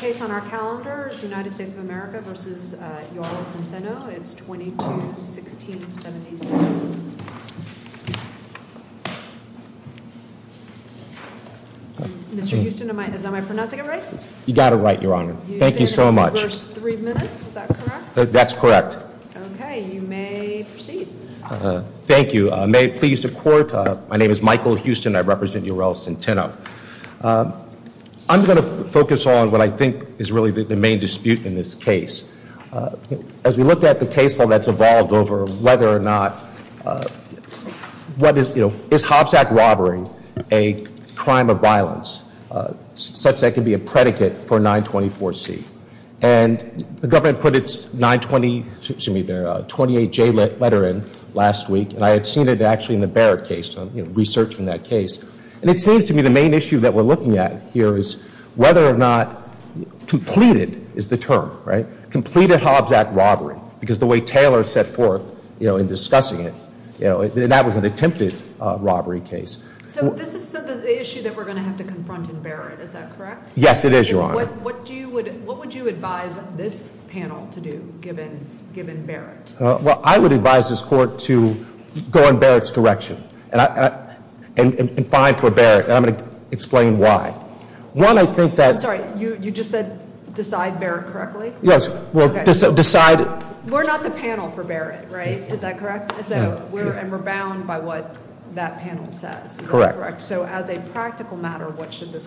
The case on our calendar is United States of America v. Ural-Centeno. It's 22-16-76. Mr. Houston, am I pronouncing it right? You got it right, Your Honor. Thank you so much. You stated it in the first three minutes, is that correct? That's correct. Okay, you may proceed. Thank you. May it please the Court, my name is Michael Houston, I represent Ural-Centeno. I'm going to focus on what I think is really the main dispute in this case. As we look at the case law that's evolved over whether or not, what is, you know, is Hobbs Act robbery a crime of violence such that it can be a predicate for 924C? And the government put its 920, excuse me, their 28J letter in last week, and I had seen it actually in the Barrett case, you know, researching that case. And it seems to me the main issue that we're looking at here is whether or not completed is the term, right? Completed Hobbs Act robbery, because the way Taylor set forth, you know, in discussing it, you know, that was an attempted robbery case. So this is the issue that we're going to have to confront in Barrett, is that correct? Yes, it is, Your Honor. What would you advise this panel to do, given Barrett? Well, I would advise this court to go in Barrett's direction and find for Barrett. And I'm going to explain why. One, I think that- I'm sorry, you just said decide Barrett correctly? Yes. Decide- We're not the panel for Barrett, right? Is that correct? And we're bound by what that panel says, is that correct? Correct. So as a practical matter, what should this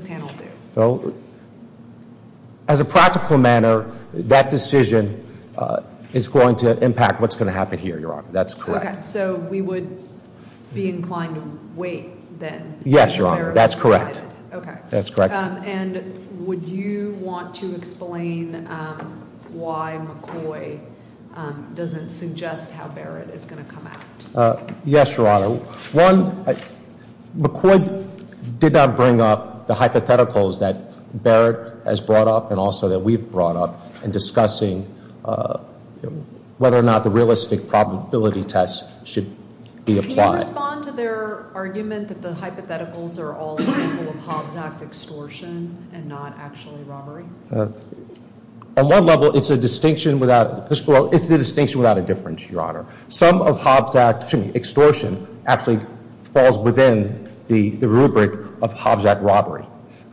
panel do? Well, as a practical matter, that decision is going to impact what's going to happen here, Your Honor. That's correct. Okay. So we would be inclined to wait then? Yes, Your Honor. That's correct. Okay. That's correct. And would you want to explain why McCoy doesn't suggest how Barrett is going to come out? Yes, Your Honor. So one, McCoy did not bring up the hypotheticals that Barrett has brought up and also that we've brought up in discussing whether or not the realistic probability test should be applied. Can you respond to their argument that the hypotheticals are all in favor of Hobbs Act extortion and not actually robbery? On one level, it's a distinction without- well, it's the distinction without a difference, Your Honor. Some of Hobbs Act extortion actually falls within the rubric of Hobbs Act robbery.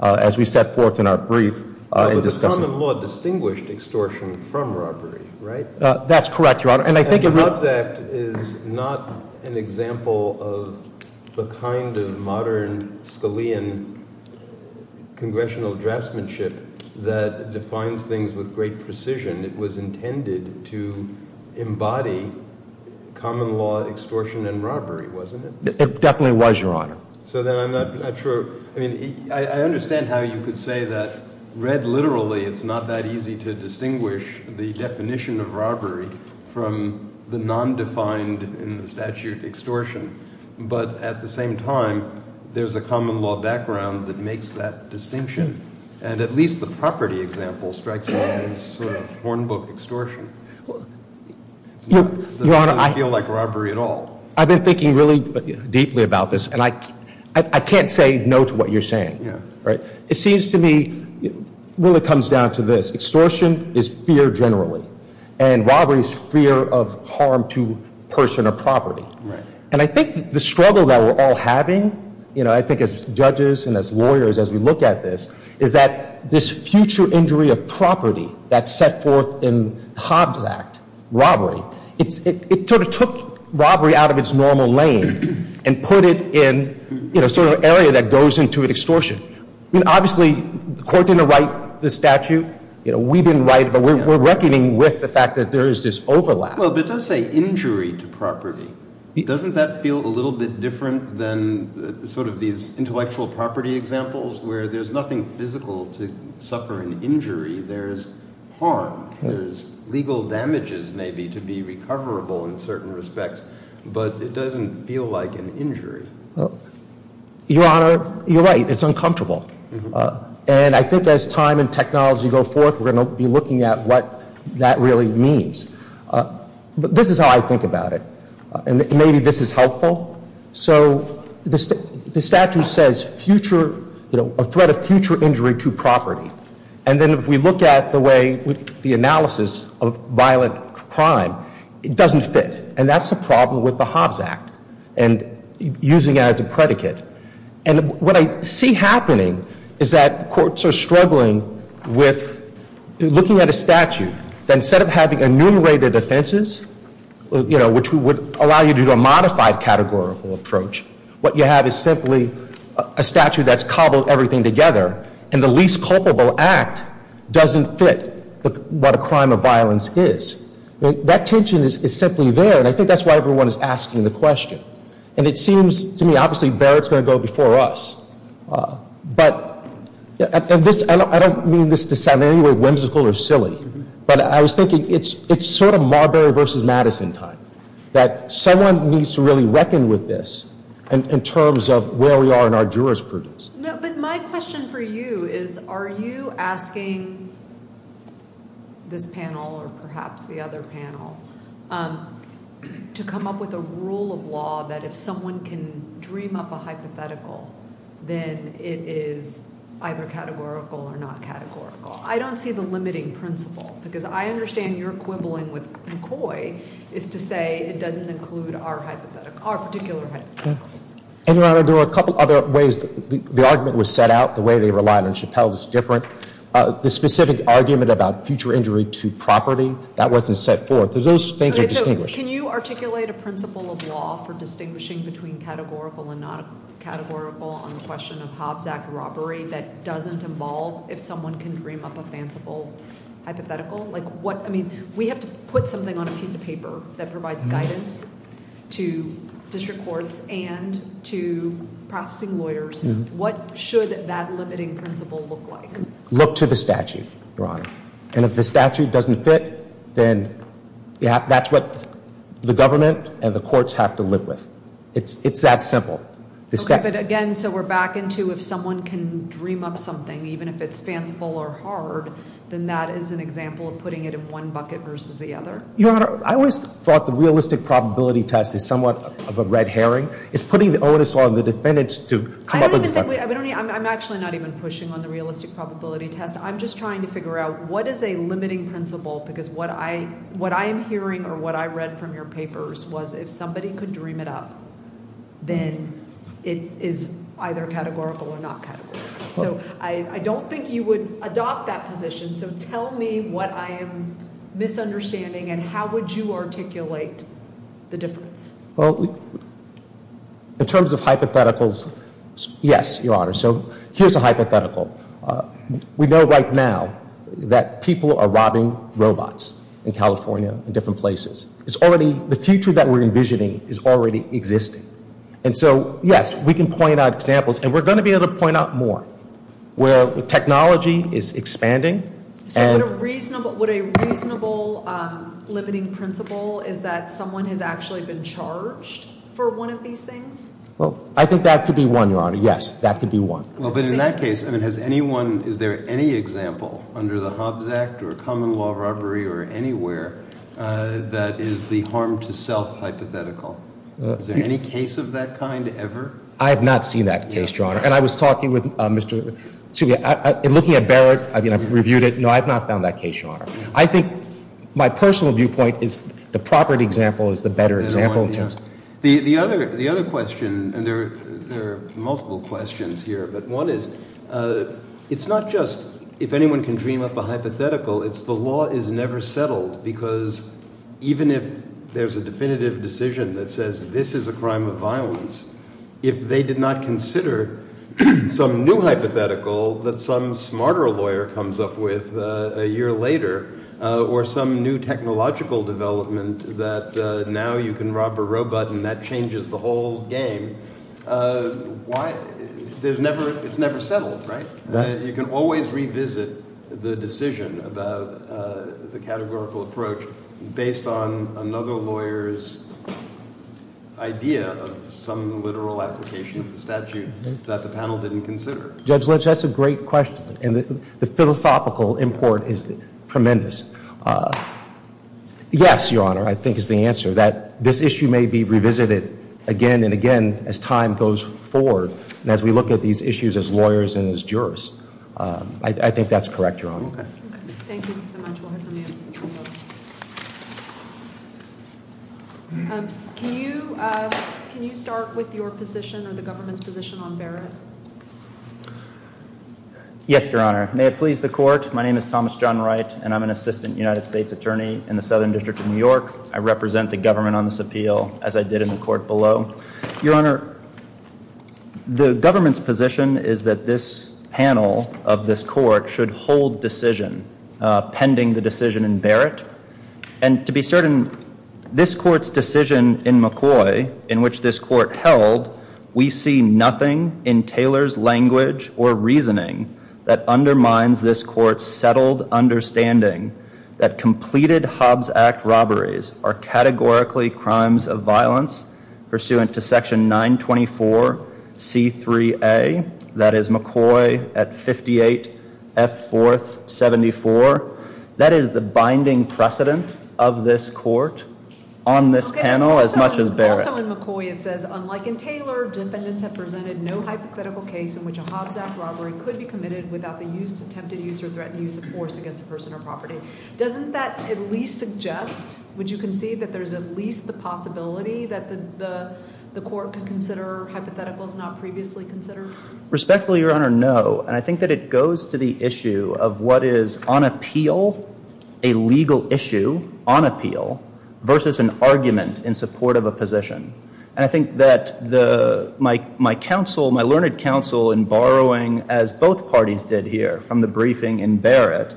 As we set forth in our brief in discussing- But the common law distinguished extortion from robbery, right? That's correct, Your Honor. And I think- Hobbs Act is not an example of the kind of modern Scalian congressional draftsmanship that defines things with great precision. It was intended to embody common law extortion and robbery, wasn't it? It definitely was, Your Honor. So then I'm not sure. I mean, I understand how you could say that read literally it's not that easy to distinguish the definition of robbery from the nondefined in the statute extortion. But at the same time, there's a common law background that makes that distinction. And at least the property example strikes me as sort of hornbook extortion. Your Honor, I- It doesn't feel like robbery at all. I've been thinking really deeply about this, and I can't say no to what you're saying, right? It seems to me it really comes down to this. Extortion is fear generally, and robbery is fear of harm to person or property. And I think the struggle that we're all having, you know, I think as judges and as lawyers as we look at this, is that this future injury of property that's set forth in Hobbs Act, robbery, it sort of took robbery out of its normal lane and put it in, you know, sort of an area that goes into an extortion. I mean, obviously, the court didn't write the statute. You know, we didn't write it, but we're reckoning with the fact that there is this overlap. Well, but it does say injury to property. Doesn't that feel a little bit different than sort of these intellectual property examples where there's nothing physical to suffer an injury? There's harm. There's legal damages maybe to be recoverable in certain respects, but it doesn't feel like an injury. Your Honor, you're right. It's uncomfortable. And I think as time and technology go forth, we're going to be looking at what that really means. But this is how I think about it. And maybe this is helpful. So the statute says future, you know, a threat of future injury to property. And then if we look at the way the analysis of violent crime, it doesn't fit. And that's a problem with the Hobbs Act and using it as a predicate. And what I see happening is that courts are struggling with looking at a statute that instead of having enumerated offenses, you know, which would allow you to do a modified categorical approach, what you have is simply a statute that's cobbled everything together, and the least culpable act doesn't fit what a crime of violence is. That tension is simply there, and I think that's why everyone is asking the question. And it seems to me obviously Barrett's going to go before us. But I don't mean this to sound in any way whimsical or silly, but I was thinking it's sort of Marbury versus Madison time, that someone needs to really reckon with this in terms of where we are in our jurisprudence. No, but my question for you is are you asking this panel or perhaps the other panel to come up with a rule of law that if someone can dream up a hypothetical, then it is either categorical or not categorical. I don't see the limiting principle because I understand your quibbling with McCoy is to say it doesn't include our hypothetical, our particular hypotheticals. And, Your Honor, there are a couple other ways the argument was set out. The way they relied on Chappelle is different. The specific argument about future injury to property, that wasn't set forth. Those things are distinguished. Can you articulate a principle of law for distinguishing between categorical and not categorical on the question of Hobbs Act robbery that doesn't involve if someone can dream up a fanciful hypothetical? We have to put something on a piece of paper that provides guidance to district courts and to processing lawyers. What should that limiting principle look like? Look to the statute, Your Honor. And if the statute doesn't fit, then that's what the government and the courts have to live with. It's that simple. Okay, but again, so we're back into if someone can dream up something, even if it's fanciful or hard, then that is an example of putting it in one bucket versus the other? Your Honor, I always thought the realistic probability test is somewhat of a red herring. It's putting the onus on the defendants to come up with the stuff. I'm actually not even pushing on the realistic probability test. I'm just trying to figure out what is a limiting principle? Because what I am hearing or what I read from your papers was if somebody could dream it up, then it is either categorical or not categorical. So I don't think you would adopt that position. So tell me what I am misunderstanding and how would you articulate the difference? Well, in terms of hypotheticals, yes, Your Honor. So here's a hypothetical. We know right now that people are robbing robots in California and different places. The future that we're envisioning is already existing. And so, yes, we can point out examples. And we're going to be able to point out more where technology is expanding. What a reasonable limiting principle is that someone has actually been charged for one of these things? Well, I think that could be one, Your Honor. Yes, that could be one. Well, but in that case, I mean, has anyone ñ is there any example under the Hobbs Act or common law robbery or anywhere that is the harm to self hypothetical? Is there any case of that kind ever? I have not seen that case, Your Honor. And I was talking with Mr. – looking at Barrett. I mean, I've reviewed it. No, I have not found that case, Your Honor. I think my personal viewpoint is the property example is the better example. The other question, and there are multiple questions here, but one is it's not just if anyone can dream up a hypothetical. It's the law is never settled because even if there's a definitive decision that says this is a crime of violence, if they did not consider some new hypothetical that some smarter lawyer comes up with a year later or some new technological development that now you can rob a robot and that changes the whole game, why ñ it's never settled, right? You can always revisit the decision about the categorical approach based on another lawyer's idea of some literal application of the statute that the panel didn't consider. Judge Lynch, that's a great question, and the philosophical import is tremendous. Yes, Your Honor, I think is the answer, that this issue may be revisited again and again as time goes forward and as we look at these issues as lawyers and as jurists. I think that's correct, Your Honor. Okay. We'll head from the end. Can you start with your position or the government's position on Barrett? Yes, Your Honor. May it please the court, my name is Thomas John Wright, and I'm an assistant United States attorney in the Southern District of New York. I represent the government on this appeal as I did in the court below. Your Honor, the government's position is that this panel of this court should hold decision pending the decision in Barrett. And to be certain, this court's decision in McCoy, in which this court held, we see nothing in Taylor's language or reasoning that undermines this court's settled understanding that completed Hobbs Act robberies are categorically crimes of violence pursuant to section 924C3A, that is McCoy at 58F474. That is the binding precedent of this court on this panel as much as Barrett. Also in McCoy it says, unlike in Taylor, defendants have presented no hypothetical case in which a Hobbs Act robbery could be committed without the use, attempted use, or threatened use of force against a person or property. Doesn't that at least suggest, would you concede, that there's at least the possibility that the court could consider hypotheticals not previously considered? Respectfully, Your Honor, no. And I think that it goes to the issue of what is on appeal a legal issue, on appeal, versus an argument in support of a position. And I think that my counsel, my learned counsel in borrowing, as both parties did here from the briefing in Barrett,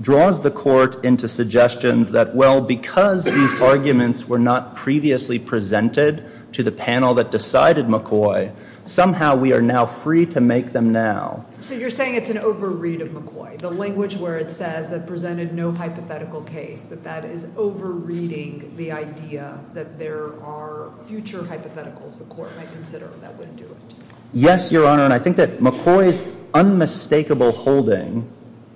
draws the court into suggestions that, well, because these arguments were not previously presented to the panel that decided McCoy, somehow we are now free to make them now. So you're saying it's an overread of McCoy, the language where it says that presented no hypothetical case, that that is overreading the idea that there are future hypotheticals the court might consider that would do it. Yes, Your Honor. And I think that McCoy's unmistakable holding,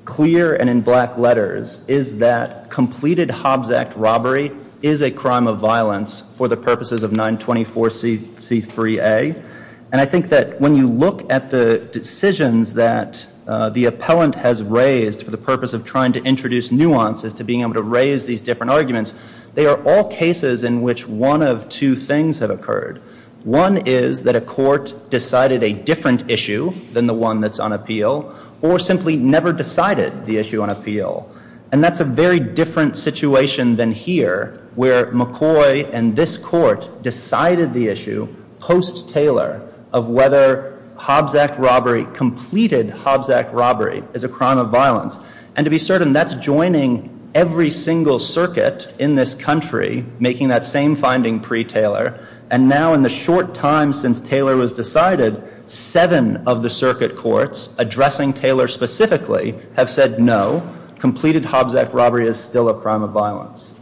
clear and in black letters, is that completed Hobbs Act robbery is a crime of violence for the purposes of 924C3A. And I think that when you look at the decisions that the appellant has raised for the purpose of trying to introduce nuances to being able to raise these different arguments, they are all cases in which one of two things have occurred. One is that a court decided a different issue than the one that's on appeal or simply never decided the issue on appeal. And that's a very different situation than here where McCoy and this court decided the issue post-Taylor of whether Hobbs Act robbery, completed Hobbs Act robbery, is a crime of violence. And to be certain, that's joining every single circuit in this country, making that same finding pre-Taylor. And now in the short time since Taylor was decided, seven of the circuit courts addressing Taylor specifically have said no, completed Hobbs Act robbery is still a crime of violence.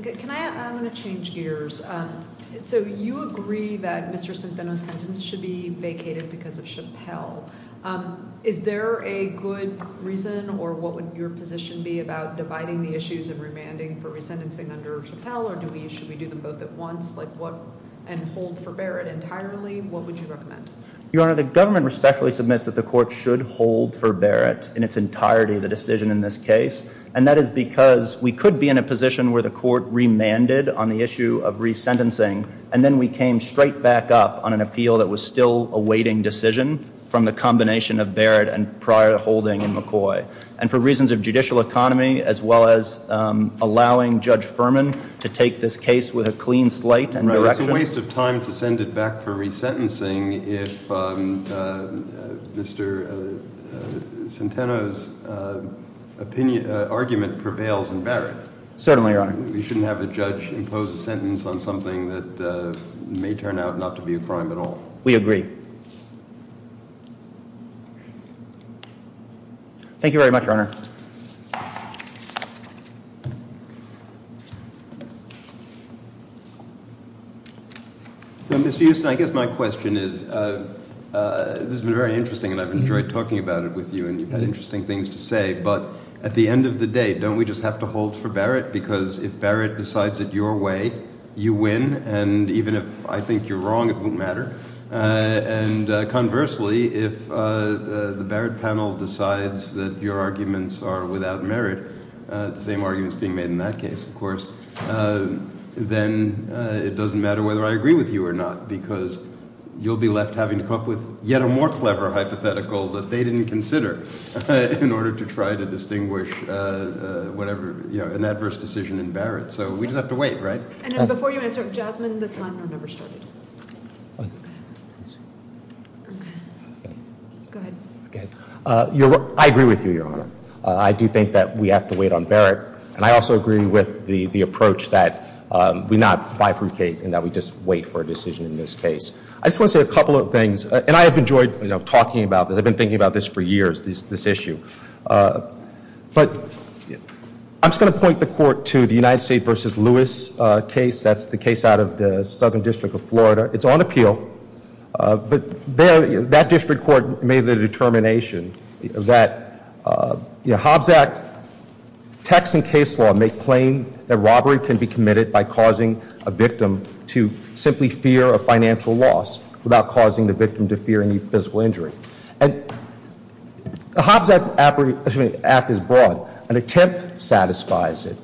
I'm going to change gears. So you agree that Mr. Centeno's sentence should be vacated because of Chappell. Is there a good reason or what would your position be about dividing the issues and remanding for resentencing under Chappell? Or should we do them both at once and hold for Barrett entirely? What would you recommend? Your Honor, the government respectfully submits that the court should hold for Barrett in its entirety the decision in this case. And that is because we could be in a position where the court remanded on the issue of resentencing and then we came straight back up on an appeal that was still awaiting decision from the combination of Barrett and prior holding in McCoy. And for reasons of judicial economy as well as allowing Judge Furman to take this case with a clean slate and direction. It's a waste of time to send it back for resentencing if Mr. Centeno's argument prevails in Barrett. Certainly, Your Honor. We shouldn't have a judge impose a sentence on something that may turn out not to be a crime at all. We agree. Thank you very much, Your Honor. Mr. Houston, I guess my question is this has been very interesting and I've enjoyed talking about it with you and you've had interesting things to say. But at the end of the day, don't we just have to hold for Barrett? Because if Barrett decides it your way, you win. And even if I think you're wrong, it won't matter. And conversely, if the Barrett panel decides that your arguments are without merit, the same arguments being made in that case, of course, then it doesn't matter whether I agree with you or not because you'll be left having to come up with yet a more clever hypothetical that they didn't consider in order to try to distinguish an adverse decision in Barrett. So we just have to wait, right? And before you answer, Jasmine, the timer never started. I agree with you, Your Honor. I do think that we have to wait on Barrett. And I also agree with the approach that we not bifurcate and that we just wait for a decision in this case. I just want to say a couple of things. And I have enjoyed talking about this. I've been thinking about this for years, this issue. But I'm just going to point the Court to the United States v. Lewis case. That's the case out of the Southern District of Florida. It's on appeal. But that district court made the determination that Hobbs Act text and case law make plain that robbery can be committed by causing a victim to simply fear a financial loss without causing the victim to fear any physical injury. And the Hobbs Act is broad. An attempt satisfies it.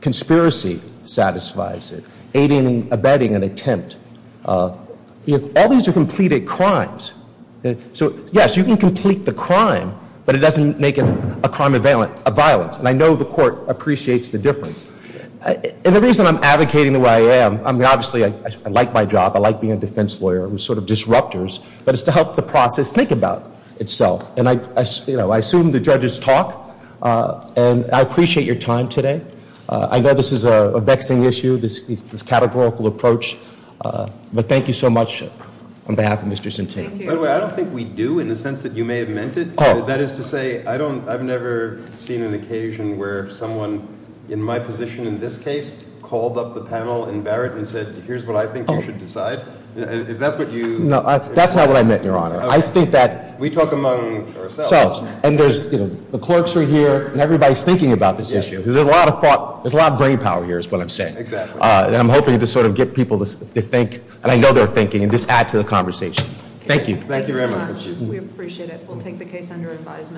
Conspiracy satisfies it. There's no meaning abetting an attempt. All these are completed crimes. So, yes, you can complete the crime, but it doesn't make it a crime of violence. And I know the Court appreciates the difference. And the reason I'm advocating the way I am, I mean, obviously, I like my job. I like being a defense lawyer. I'm sort of disruptors. But it's to help the process think about itself. And I assume the judges talk. And I appreciate your time today. I know this is a vexing issue. This categorical approach. But thank you so much on behalf of Mr. Centine. By the way, I don't think we do in the sense that you may have meant it. That is to say, I've never seen an occasion where someone in my position in this case called up the panel in Barrett and said, here's what I think you should decide. If that's what you. No, that's not what I meant, Your Honor. We talk among ourselves. And the clerks are here, and everybody's thinking about this issue. There's a lot of brain power here is what I'm saying. Exactly. And I'm hoping to sort of get people to think. And I know they're thinking, and just add to the conversation. Thank you. Thank you very much. We appreciate it. We'll take the case under advisement.